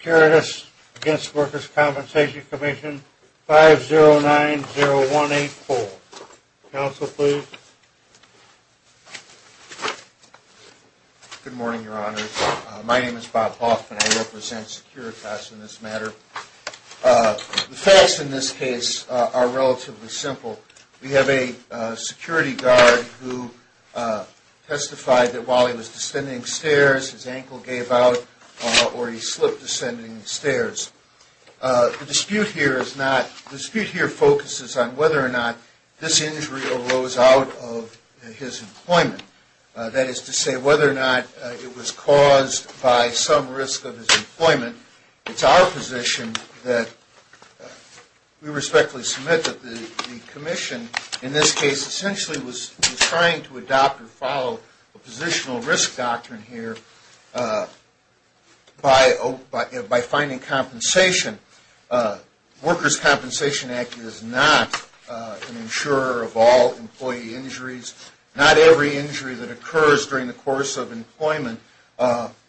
Securitas against Workers' Compensation Commission, 5090184. Counsel, please. Good morning, Your Honors. My name is Bob Hoffman. I represent Securitas in this matter. The facts in this case are relatively simple. We have a security guard who testified that while he was descending stairs, his ankle gave out, or he slipped descending the stairs. The dispute here focuses on whether or not this injury arose out of his employment. That is to say, whether or not it was caused by some risk of his employment. It's our position that we respectfully submit that the commission, in this case, essentially was trying to adopt or follow a positional risk doctrine here by finding compensation. Workers' Compensation Act is not an insurer of all employee injuries. Not every injury that occurs during the course of employment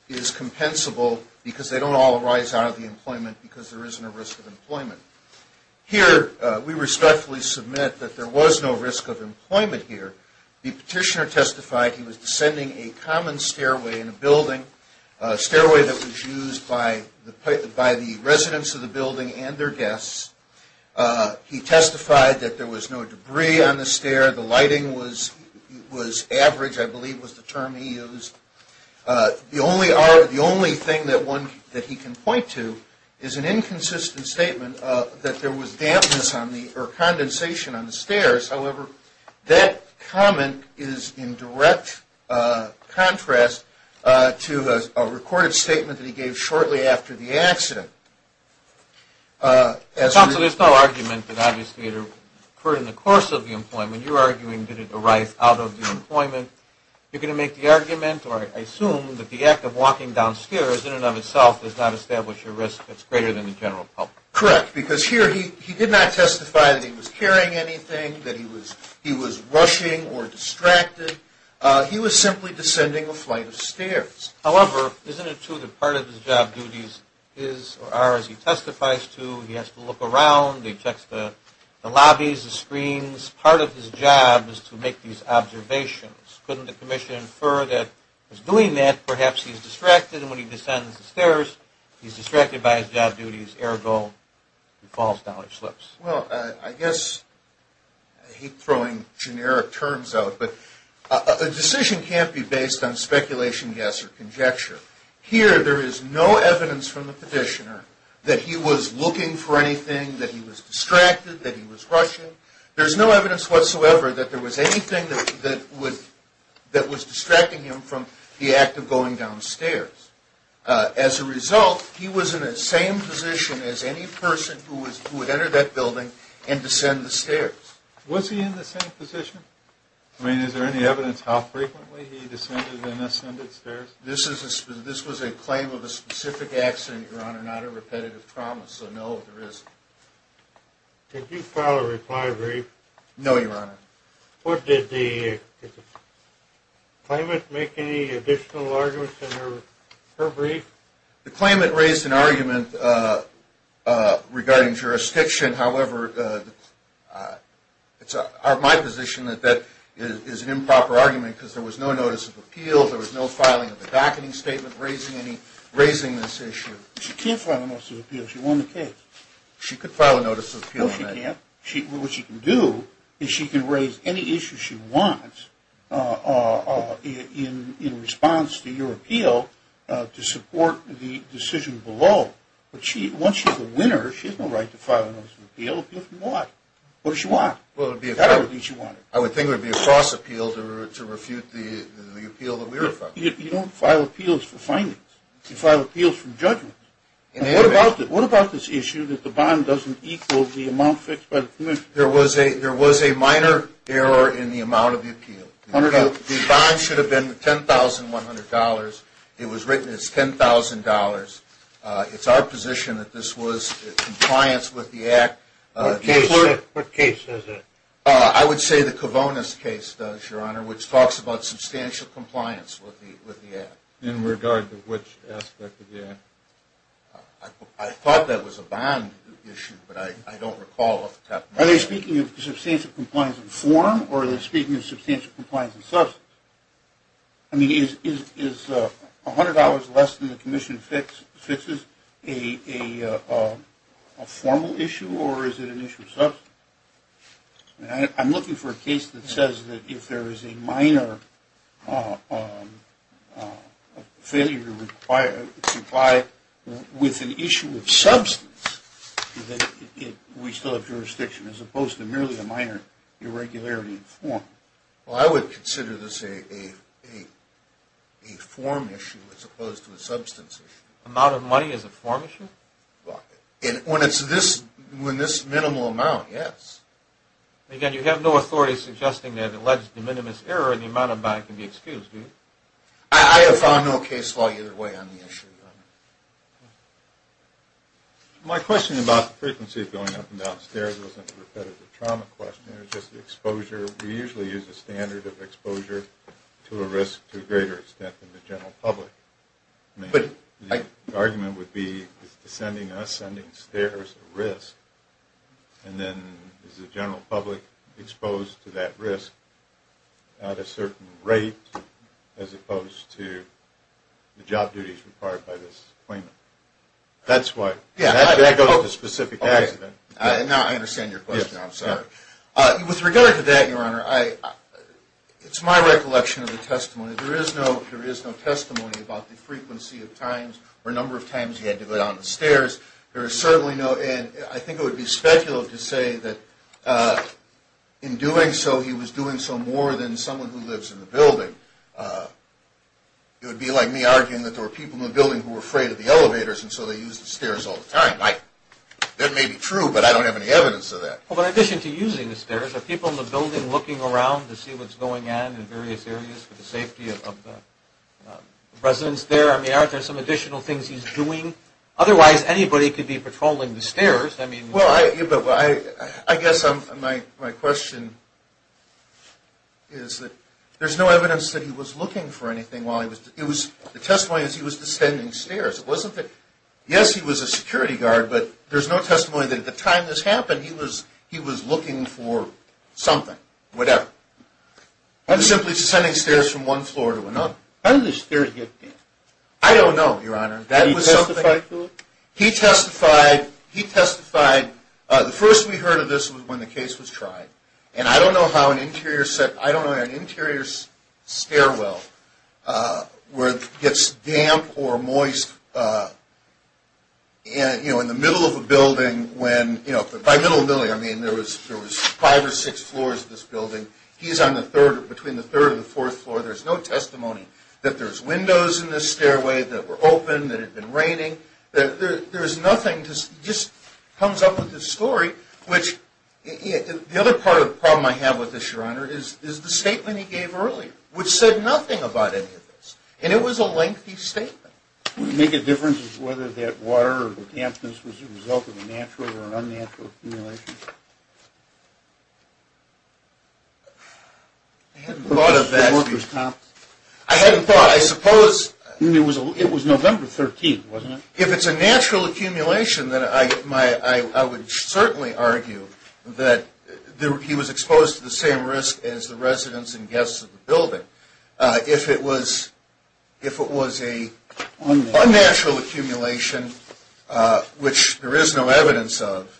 is compensable because they don't all arise out of the employment because there isn't a risk of employment. Here, we respectfully submit that there was no risk of employment here. The petitioner testified he was descending a common stairway in a building, a stairway that was used by the residents of the building and their guests. He testified that there was no debris on the stair, the lighting was average, I believe was the term he used. The only thing that he can point to is an inconsistent statement that there was dampness or condensation on the stairs. However, that comment is in direct contrast to a recorded statement that he gave shortly after the accident. Counsel, there's no argument that obviously it occurred in the course of the employment. You're arguing did it arise out of the employment. You're going to make the argument or I assume that the act of walking downstairs in and of itself does not establish a risk that's greater than the general public. Correct, because here he did not testify that he was carrying anything, that he was rushing or distracted. He was simply descending a flight of stairs. However, isn't it true that part of his job duties is or are as he testifies to, he has to look around, he checks the lobbies, the screens. Isn't this part of his job is to make these observations? Couldn't the commission infer that he's doing that, perhaps he's distracted, and when he descends the stairs he's distracted by his job duties, ergo he falls down or slips? Well, I guess, I hate throwing generic terms out, but a decision can't be based on speculation, guess, or conjecture. Here there is no evidence from the petitioner that he was looking for anything, that he was distracted, that he was rushing. There's no evidence whatsoever that there was anything that was distracting him from the act of going downstairs. As a result, he was in the same position as any person who would enter that building and descend the stairs. Was he in the same position? I mean, is there any evidence how frequently he descended and ascended stairs? This was a claim of a specific accident, Your Honor, not a repetitive trauma, so no, there isn't. Did you file a reply brief? No, Your Honor. Did the claimant make any additional arguments in her brief? The claimant raised an argument regarding jurisdiction, however, it's my position that that is an improper argument because there was no notice of appeal, there was no filing of a backening statement raising this issue. She can't file a notice of appeal, she won the case. She could file a notice of appeal. No, she can't. What she can do is she can raise any issue she wants in response to your appeal to support the decision below. But once she's a winner, she has no right to file a notice of appeal. Appeal from what? What does she want? Well, it would be a cross appeal. You don't file appeals for findings. You file appeals for judgment. What about this issue that the bond doesn't equal the amount fixed by the commission? There was a minor error in the amount of the appeal. The bond should have been $10,100. It was written as $10,000. It's our position that this was in compliance with the act. What case is it? I would say the Kavonis case does, Your Honor, which talks about substantial compliance with the act. In regard to which aspect of the act? I thought that was a bond issue, but I don't recall. Are they speaking of substantial compliance in form or are they speaking of substantial compliance in substance? I mean, is $100 less than the commission fixes a formal issue or is it an issue of substance? I'm looking for a case that says that if there is a minor failure to comply with an issue of substance, that we still have jurisdiction as opposed to merely a minor irregularity in form. Well, I would consider this a form issue as opposed to a substance issue. Amount of money is a form issue? Well, when it's this minimal amount, yes. Again, you have no authority suggesting that alleged de minimis error in the amount of money can be excused, do you? I have found no case law either way on the issue, Your Honor. My question about the frequency of going up and down stairs wasn't a repetitive trauma question. It was just exposure. We usually use a standard of exposure to a risk to a greater extent than the general public. I mean, the argument would be is descending and ascending stairs a risk? And then is the general public exposed to that risk at a certain rate as opposed to the job duties required by this claimant? That's why. That goes to specific accident. Now I understand your question. I'm sorry. With regard to that, Your Honor, it's my recollection of the testimony. There is no testimony about the frequency of times or number of times he had to go down the stairs. There is certainly no – and I think it would be speculative to say that in doing so, he was doing so more than someone who lives in the building. It would be like me arguing that there were people in the building who were afraid of the elevators, and so they used the stairs all the time. That may be true, but I don't have any evidence of that. Well, in addition to using the stairs, are people in the building looking around to see what's going on in various areas for the safety of the residents there? I mean, aren't there some additional things he's doing? Otherwise, anybody could be patrolling the stairs. I mean – Well, I guess my question is that there's no evidence that he was looking for anything while he was – the testimony is he was descending stairs. It wasn't that – yes, he was a security guard, but there's no testimony that at the time this happened, he was looking for something, whatever. He was simply descending stairs from one floor to another. How did the stairs get damp? I don't know, Your Honor. Did he testify to it? He testified. He testified. The first we heard of this was when the case was tried, and I don't know how an interior – I don't know how an interior stairwell gets damp or moist in the middle of a building when – by middle of the building, I mean there was five or six floors of this building. He's on the third – between the third and the fourth floor. There's no testimony that there's windows in this stairway that were open, that it had been raining. There's nothing – he just comes up with this story, which – the other part of the problem I have with this, Your Honor, is the statement he gave earlier, which said nothing about any of this, and it was a lengthy statement. Would it make a difference as to whether that water or the dampness was a result of a natural or unnatural accumulation? I hadn't thought of that. I hadn't thought. I suppose – It was November 13th, wasn't it? If it's a natural accumulation, then I would certainly argue that he was exposed to the same risk as the residents and guests of the building. If it was a unnatural accumulation, which there is no evidence of,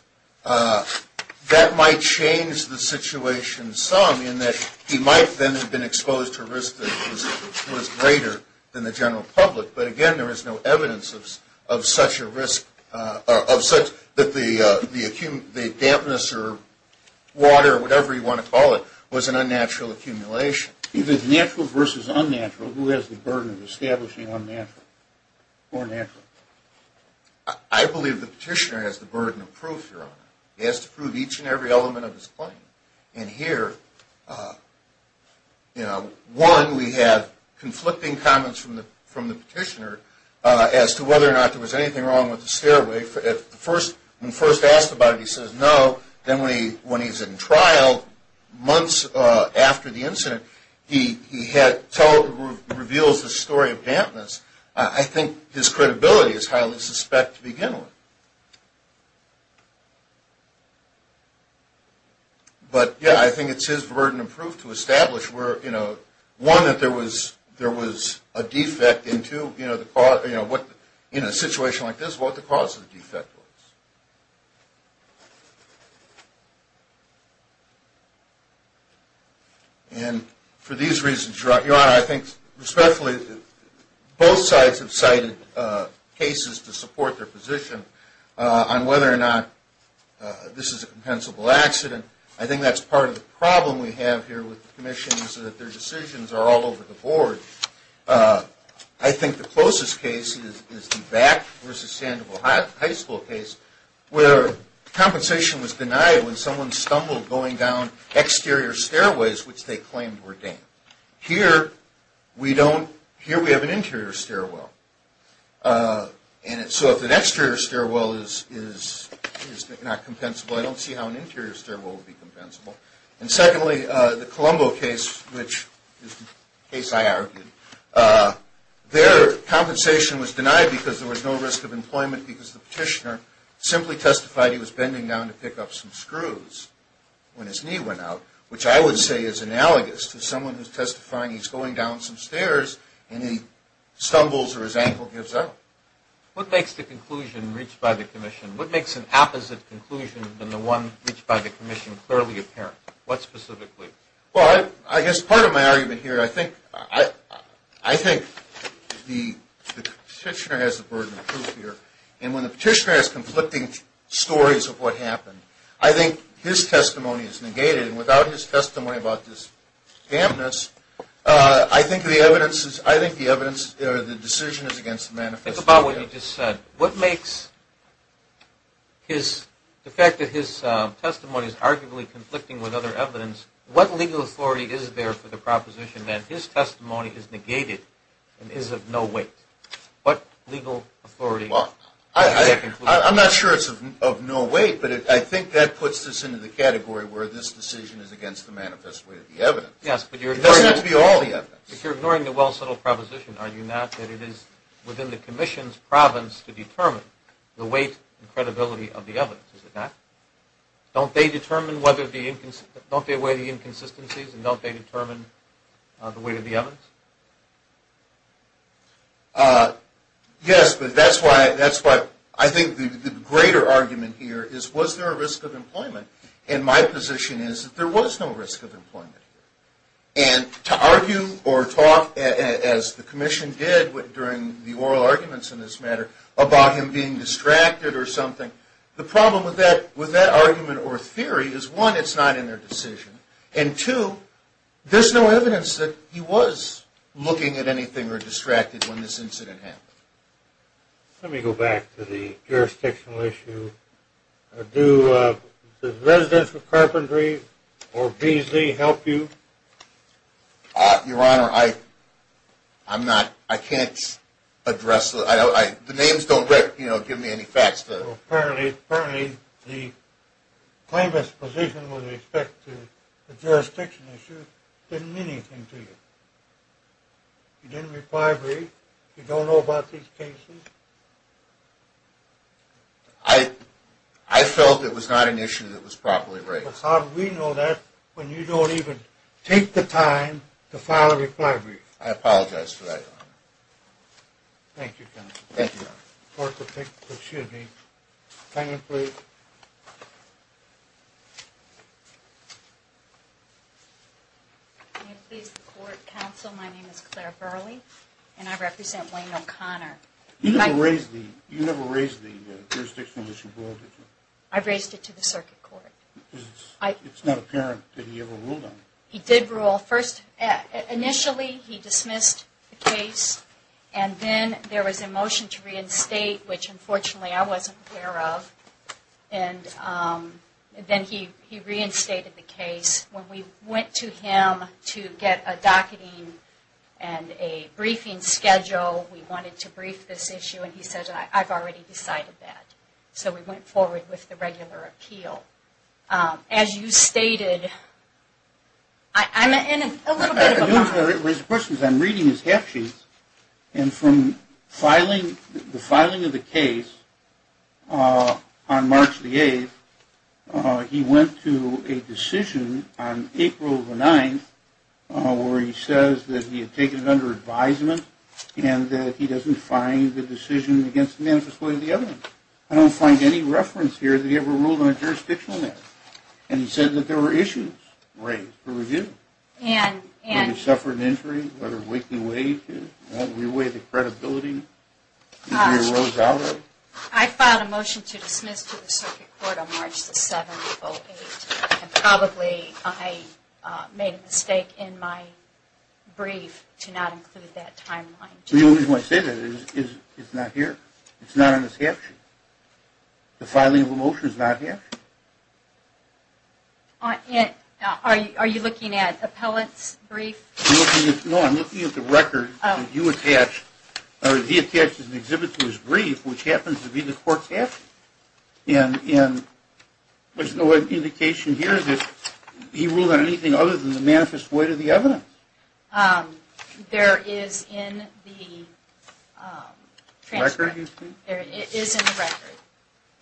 that might change the situation some in that he might then have been exposed to a risk that was greater than the general public. But again, there is no evidence of such a risk – of such – that the dampness or water, whatever you want to call it, was an unnatural accumulation. If it's natural versus unnatural, who has the burden of establishing unnatural or natural? I believe the petitioner has the burden of proof, Your Honor. He has to prove each and every element of his claim. And here, one, we have conflicting comments from the petitioner as to whether or not there was anything wrong with the stairway. When first asked about it, he says no. Then when he's in trial, months after the incident, he reveals the story of dampness. I think his credibility is highly suspect to begin with. But yeah, I think it's his burden of proof to establish where, you know, one, that there was a defect, and two, you know, in a situation like this, what the cause of the defect was. And for these reasons, Your Honor, I think especially both sides have cited cases to support their position on whether or not this is a compensable accident. I think that's part of the problem we have here with the commission is that their decisions are all over the board. I think the closest case is the Back v. Sandoval High School case where compensation was denied when someone stumbled going down exterior stairways, which they claimed were damp. Here, we have an interior stairwell. And so if an exterior stairwell is not compensable, I don't see how an interior stairwell would be compensable. And secondly, the Colombo case, which is the case I argued, their compensation was denied because there was no risk of employment because the petitioner simply testified he was bending down to pick up some screws when his knee went out, which I would say is analogous to someone who's testifying he's going down some stairs and he stumbles or his ankle gives out. What makes the conclusion reached by the commission? What makes an opposite conclusion than the one reached by the commission clearly apparent? What specifically? Well, I guess part of my argument here, I think the petitioner has the burden of proof here. And when the petitioner has conflicting stories of what happened, I think his testimony is negated. And without his testimony about this dampness, I think the evidence or the decision is against the manifesto. Think about what you just said. What makes the fact that his testimony is arguably conflicting with other evidence, what legal authority is there for the proposition that his testimony is negated and is of no weight? What legal authority? I'm not sure it's of no weight, but I think that puts this into the category where this decision is against the manifest way of the evidence. It doesn't have to be all the evidence. If you're ignoring the well-settled proposition, are you not, that it is within the commission's province to determine the weight and credibility of the evidence? Is it not? Don't they weigh the inconsistencies and don't they determine the weight of the evidence? Yes, but that's why I think the greater argument here is was there a risk of employment? And my position is that there was no risk of employment. And to argue or talk, as the commission did during the oral arguments in this matter, about him being distracted or something, the problem with that argument or theory is one, it's not in their decision, and two, there's no evidence that he was looking at anything or distracted when this incident happened. Let me go back to the jurisdictional issue. Do the residents of Carpentry or Beasley help you? Your Honor, I'm not, I can't address, the names don't give me any facts. Well, apparently the claimant's position with respect to the jurisdiction issue didn't mean anything to you. You didn't reply briefly. You don't know about these cases. I felt it was not an issue that was properly raised. How do we know that when you don't even take the time to file a reply brief? I apologize for that, Your Honor. Thank you, counsel. Thank you, Your Honor. Court, excuse me. Can you please? May it please the court, counsel, my name is Claire Burley, and I represent Wayne O'Connor. You never raised the jurisdictional issue before, did you? I raised it to the circuit court. It's not apparent that he ever ruled on it. He did rule. Initially, he dismissed the case, and then there was a motion to reinstate, which unfortunately I wasn't aware of. And then he reinstated the case. When we went to him to get a docketing and a briefing schedule, we wanted to brief this issue, and he said, I've already decided that. So we went forward with the regular appeal. As you stated, I'm in a little bit of a hurry. I'm reading his half-sheets, and from the filing of the case on March the 8th, he went to a decision on April the 9th where he says that he had taken it under advisement and that he doesn't find the decision against the manifesto of the other one. I don't find any reference here that he ever ruled on a jurisdictional matter. And he said that there were issues raised for review. And? Did he suffer an injury? Was there a weight in wages? Did he weigh the credibility that he rose out of? I filed a motion to dismiss to the circuit court on March the 7th of 08, and probably I made a mistake in my brief to not include that timeline. The only reason I say that is it's not here. It's not on this half-sheet. The filing of the motion is not here. Are you looking at appellate's brief? No, I'm looking at the record that you attached, or he attached as an exhibit to his brief, which happens to be the court's half-sheet. There's no indication here that he ruled on anything other than the manifest void of the evidence. There is in the transcript, it is in the record,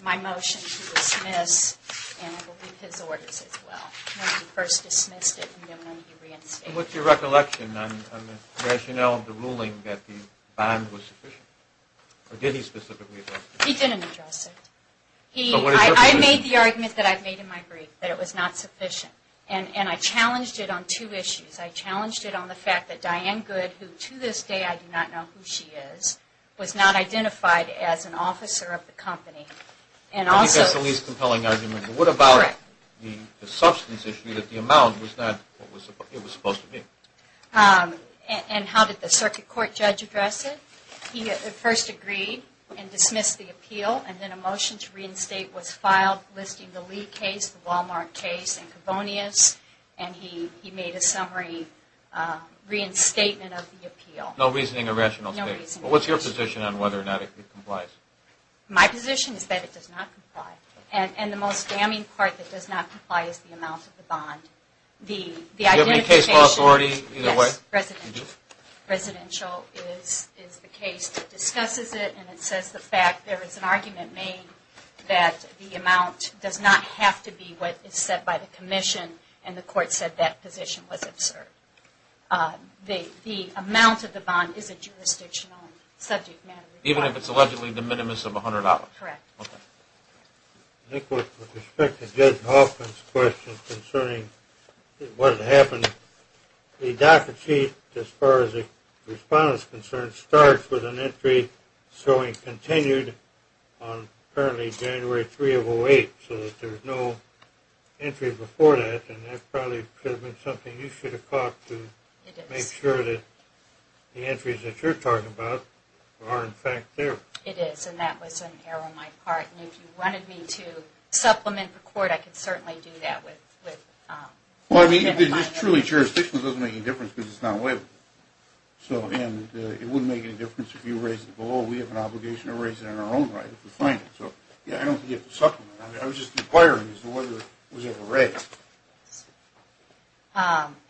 my motion to dismiss, and I believe his orders as well, when he first dismissed it and then when he reinstated it. What's your recollection on the rationale of the ruling that the bond was sufficient? Or did he specifically address it? He didn't address it. I made the argument that I've made in my brief, that it was not sufficient. And I challenged it on two issues. I challenged it on the fact that Diane Good, who to this day I do not know who she is, was not identified as an officer of the company. I think that's the least compelling argument. What about the substance issue that the amount was not what it was supposed to be? And how did the circuit court judge address it? He at first agreed and dismissed the appeal, and then a motion to reinstate was filed listing the Lee case, the Wal-Mart case, and Kavonius, and he made a summary reinstatement of the appeal. No reasoning or rationale stated? No reasoning. What's your position on whether or not it complies? My position is that it does not comply. And the most damning part that does not comply is the amount of the bond. The identification... Should it be case law authority either way? Yes, residential. Residential is the case that discusses it, and it says the fact there is an argument made that the amount does not have to be what is said by the commission, and the court said that position was absurd. The amount of the bond is a jurisdictional subject matter. Even if it's allegedly de minimis of $100? Correct. Okay. Nick, with respect to Judge Hoffman's question concerning what happened, the docket sheet, as far as the respondent is concerned, starts with an entry showing continued on apparently January 3 of 08, so that there's no entry before that, and that probably could have been something you should have caught to make sure that the entries that you're talking about are, in fact, there. It is, and that was an error on my part, and if you wanted me to supplement the court, I could certainly do that with... Well, I mean, if it's truly jurisdictional, it doesn't make any difference because it's not waived. So, and it wouldn't make any difference if you raise it below. We have an obligation to raise it in our own right if we find it. So, yeah, I don't think you have to supplement it. I was just inquiring as to whether it was ever raised.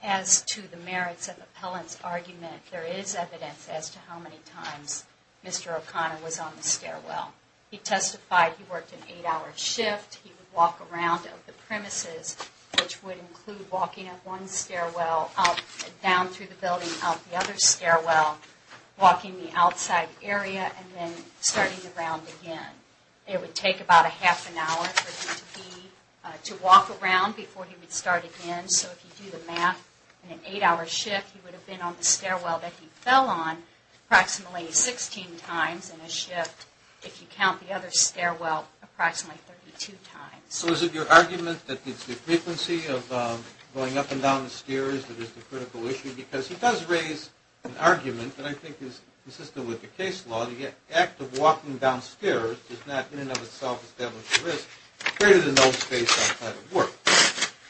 As to the merits of the appellant's argument, there is evidence as to how many times Mr. O'Connor was on the stairwell. He testified he worked an eight-hour shift. He would walk around the premises, which would include walking up one stairwell, up and down through the building, up the other stairwell, walking the outside area, and then starting around again. It would take about a half an hour for him to walk around before he would start again. So if you do the math, in an eight-hour shift, he would have been on the stairwell that he fell on approximately 16 times in a shift. If you count the other stairwell, approximately 32 times. So is it your argument that it's the frequency of going up and down the stairs that is the critical issue? Because he does raise an argument that I think is consistent with the case law. The act of walking downstairs does not in and of itself establish a risk greater than those faced outside of work.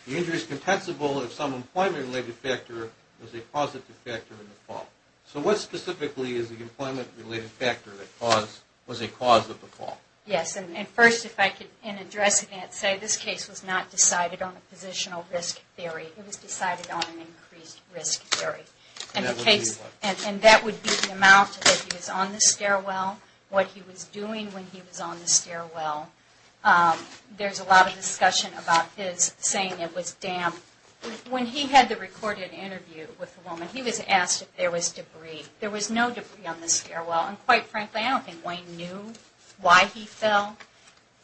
The injury is compensable if some employment-related factor is a positive factor in the fall. So what specifically is the employment-related factor that was a cause of the fall? Yes, and first, if I could address that, say this case was not decided on a positional risk theory. It was decided on an increased risk theory. And that would be the amount that he was on the stairwell, what he was doing when he was on the stairwell. There's a lot of discussion about his saying it was damp. When he had the recorded interview with the woman, he was asked if there was debris. There was no debris on the stairwell. And quite frankly, I don't think Wayne knew why he fell.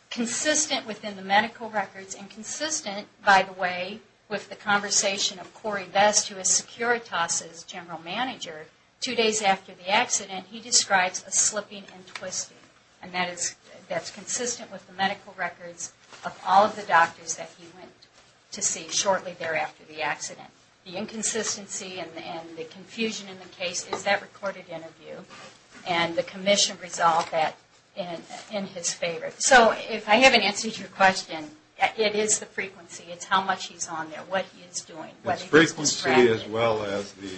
Consistent within the medical records, and consistent, by the way, with the conversation of Corey Best, who is Securitas' general manager, two days after the accident, he describes a slipping and twisting. And that is consistent with the medical records of all of the doctors that he went to see shortly thereafter the accident. The inconsistency and the confusion in the case is that recorded interview. And the commission resolved that in his favor. So if I haven't answered your question, it is the frequency. It's how much he's on there, what he is doing, what he is distracting. It's frequency as well as the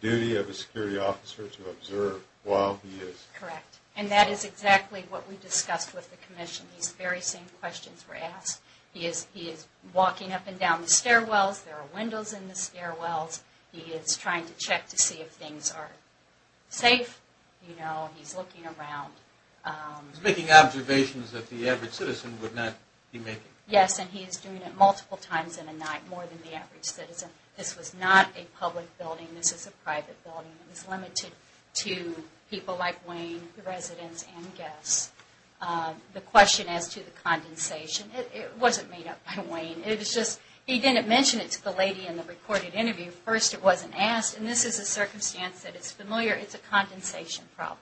duty of a security officer to observe while he is. Correct. And that is exactly what we discussed with the commission. These very same questions were asked. He is walking up and down the stairwells. There are windows in the stairwells. He is trying to check to see if things are safe. You know, he's looking around. He's making observations that the average citizen would not be making. Yes, and he is doing it multiple times in a night, more than the average citizen. This was not a public building. This is a private building. It was limited to people like Wayne, the residents, and guests. The question as to the condensation, it wasn't made up by Wayne. He didn't mention it to the lady in the recorded interview. First, it wasn't asked. And this is a circumstance that is familiar. It's a condensation problem.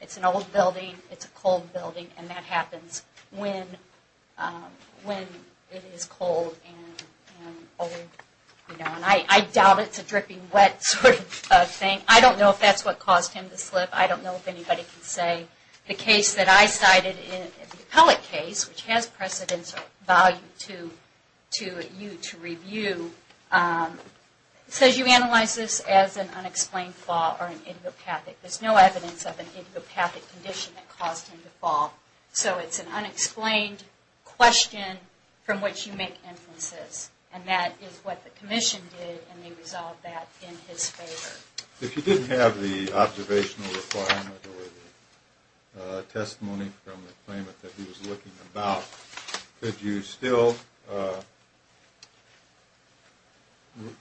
It's an old building. It's a cold building. And that happens when it is cold and old. I doubt it's a dripping wet sort of thing. I don't know if that's what caused him to slip. I don't know if anybody can say. The case that I cited, the appellate case, which has precedence or value to you to review, says you analyze this as an unexplained fall or an idiopathic. There's no evidence of an idiopathic condition that caused him to fall. So it's an unexplained question from which you make inferences. And that is what the commission did, and they resolved that in his favor. If you didn't have the observational requirement or the testimony from the claimant that he was looking about, could you still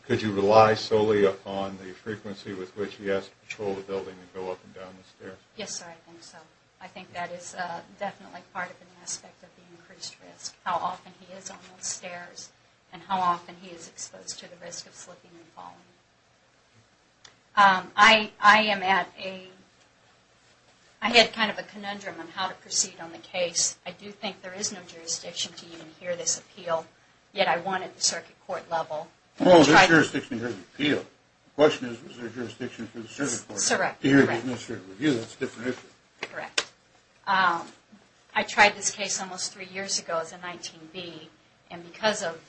rely solely on the frequency with which he has to patrol the building and go up and down the stairs? Yes, sir, I think so. I think that is definitely part of an aspect of the increased risk, how often he is on those stairs and how often he is exposed to the risk of slipping and falling. I am at a, I had kind of a conundrum on how to proceed on the case. I do think there is no jurisdiction to even hear this appeal, yet I wanted the circuit court level. Well, there's jurisdiction to hear the appeal. The question is, is there jurisdiction for the circuit court to hear the administrative review? That's a different issue. Correct. I tried this case almost three years ago as a 19B, and because of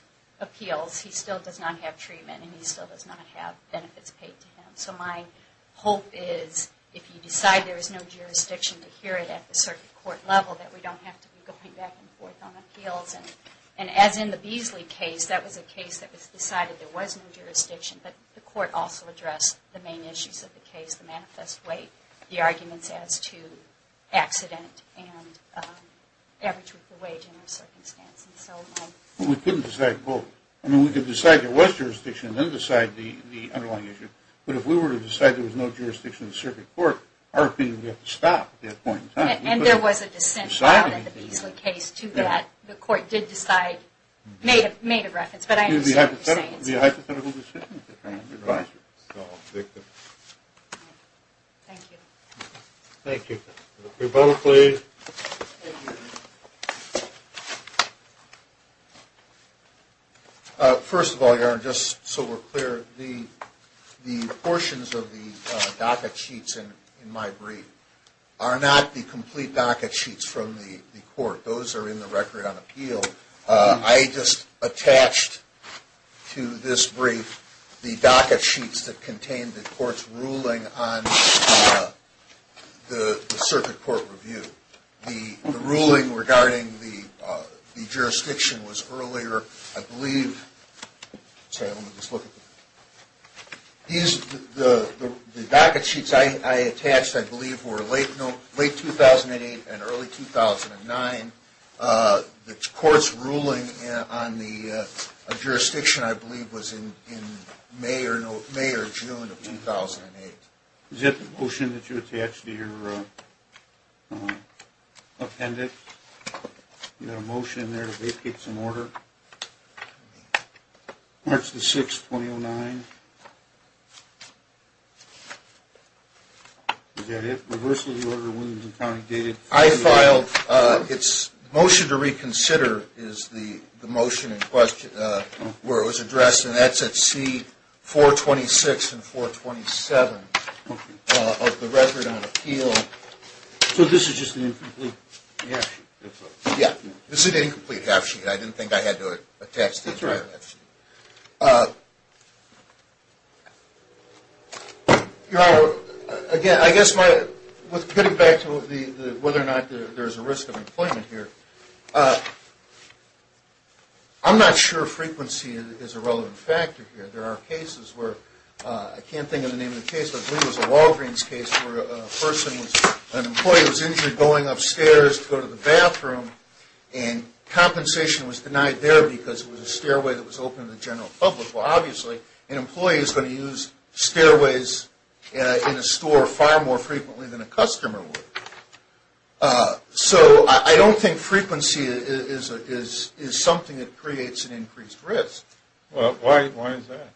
appeals, he still does not have treatment and he still does not have benefits paid to him. So my hope is, if you decide there is no jurisdiction to hear it at the circuit court level, that we don't have to be going back and forth on appeals. And as in the Beasley case, that was a case that was decided there was no jurisdiction, but the court also addressed the main issues of the case, the manifest way, the arguments as to accident and average wage in those circumstances. We couldn't decide both. I mean, we could decide there was jurisdiction and then decide the underlying issue, but if we were to decide there was no jurisdiction in the circuit court, our opinion would have to stop at that point in time. And there was a dissent in the Beasley case to that. The court did decide, made a reference. But I understand what you're saying. Thank you. Thank you. Your vote, please. First of all, Your Honor, just so we're clear, the portions of the docket sheets in my brief are not the complete docket sheets from the court. Those are in the record on appeal. I just attached to this brief the docket sheets that contained the court's ruling on the circuit court review. The ruling regarding the jurisdiction was earlier, I believe. The docket sheets I attached, I believe, were late 2008 and early 2009. The court's ruling on the jurisdiction, I believe, was in May or June of 2008. Is that the motion that you attached to your appendix? You got a motion there to vacate some order? March the 6th, 2009. Is that it? Reversal of the order will not be counted. I filed its motion to reconsider is the motion in question where it was addressed, and that's at C-426 and 427 of the record on appeal. So this is just an incomplete draft sheet? Yeah. This is an incomplete draft sheet. I didn't think I had to attach this draft sheet. That's right. Your Honor, again, I guess with getting back to whether or not there's a risk of employment here, I'm not sure frequency is a relevant factor here. There are cases where, I can't think of the name of the case, but I believe it was a Walgreens case where an employee was injured going upstairs to go to the bathroom, and compensation was denied there because it was a stairway that was open to the general public. Well, obviously, an employee is going to use stairways in a store far more frequently than a customer would. So I don't think frequency is something that creates an increased risk. Well, why is that?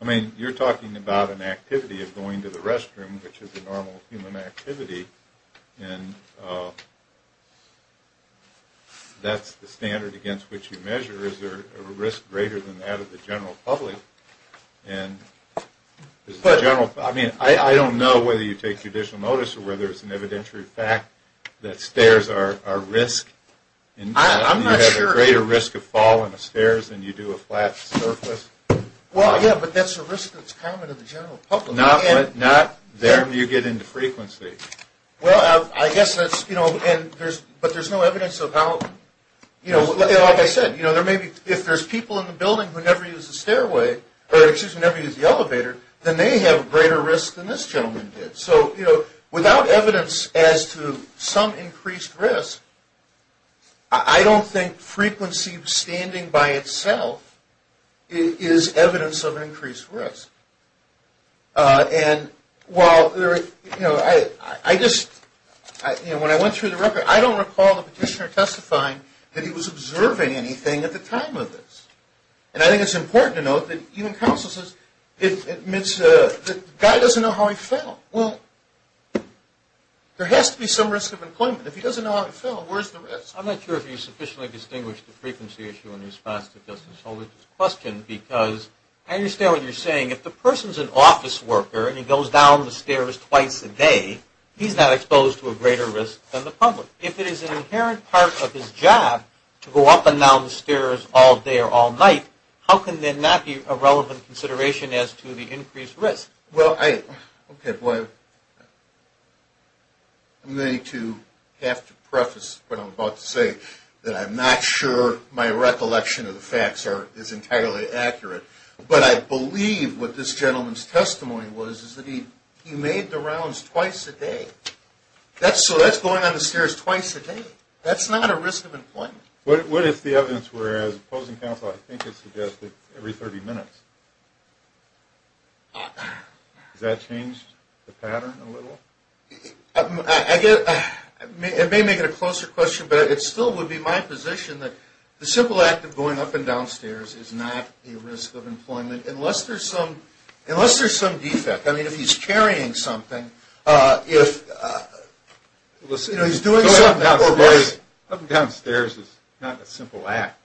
I mean, you're talking about an activity of going to the restroom, which is a normal human activity, and that's the standard against which you measure. Is there a risk greater than that of the general public? I mean, I don't know whether you take judicial notice or whether it's an evidentiary fact that stairs are a risk. I'm not sure. You have a greater risk of fall on the stairs than you do a flat surface. Well, yeah, but that's a risk that's common to the general public. Not there when you get into frequency. Well, I guess that's, you know, but there's no evidence of how, you know, like I said, you know, if there's people in the building who never use the stairway, or excuse me, never use the elevator, then they have a greater risk than this gentleman did. So, you know, without evidence as to some increased risk, I don't think frequency standing by itself is evidence of an increased risk. And while, you know, I just, you know, when I went through the record, I don't recall the petitioner testifying that he was observing anything at the time of this. And I think it's important to note that even counsel says, the guy doesn't know how he fell. Well, there has to be some risk of employment. If he doesn't know how he fell, where's the risk? I'm not sure if you sufficiently distinguished the frequency issue in response to Justin's question, because I understand what you're saying. If the person's an office worker and he goes down the stairs twice a day, he's not exposed to a greater risk than the public. If it is an inherent part of his job to go up and down the stairs all day or all night, how can there not be a relevant consideration as to the increased risk? Well, I'm going to have to preface what I'm about to say, that I'm not sure my recollection of the facts is entirely accurate. But I believe what this gentleman's testimony was is that he made the rounds twice a day. So that's going on the stairs twice a day. That's not a risk of employment. What if the evidence were, as opposing counsel, I think it's suggested, every 30 minutes? Has that changed the pattern a little? I get it. It may make it a closer question, but it still would be my position that the simple act of going up and down stairs is not a risk of employment, unless there's some defect. I mean, if he's carrying something, if, you know, he's doing something. Up and down stairs is not a simple act.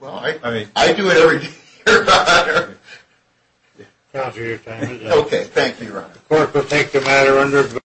Well, I do it every day, Your Honor.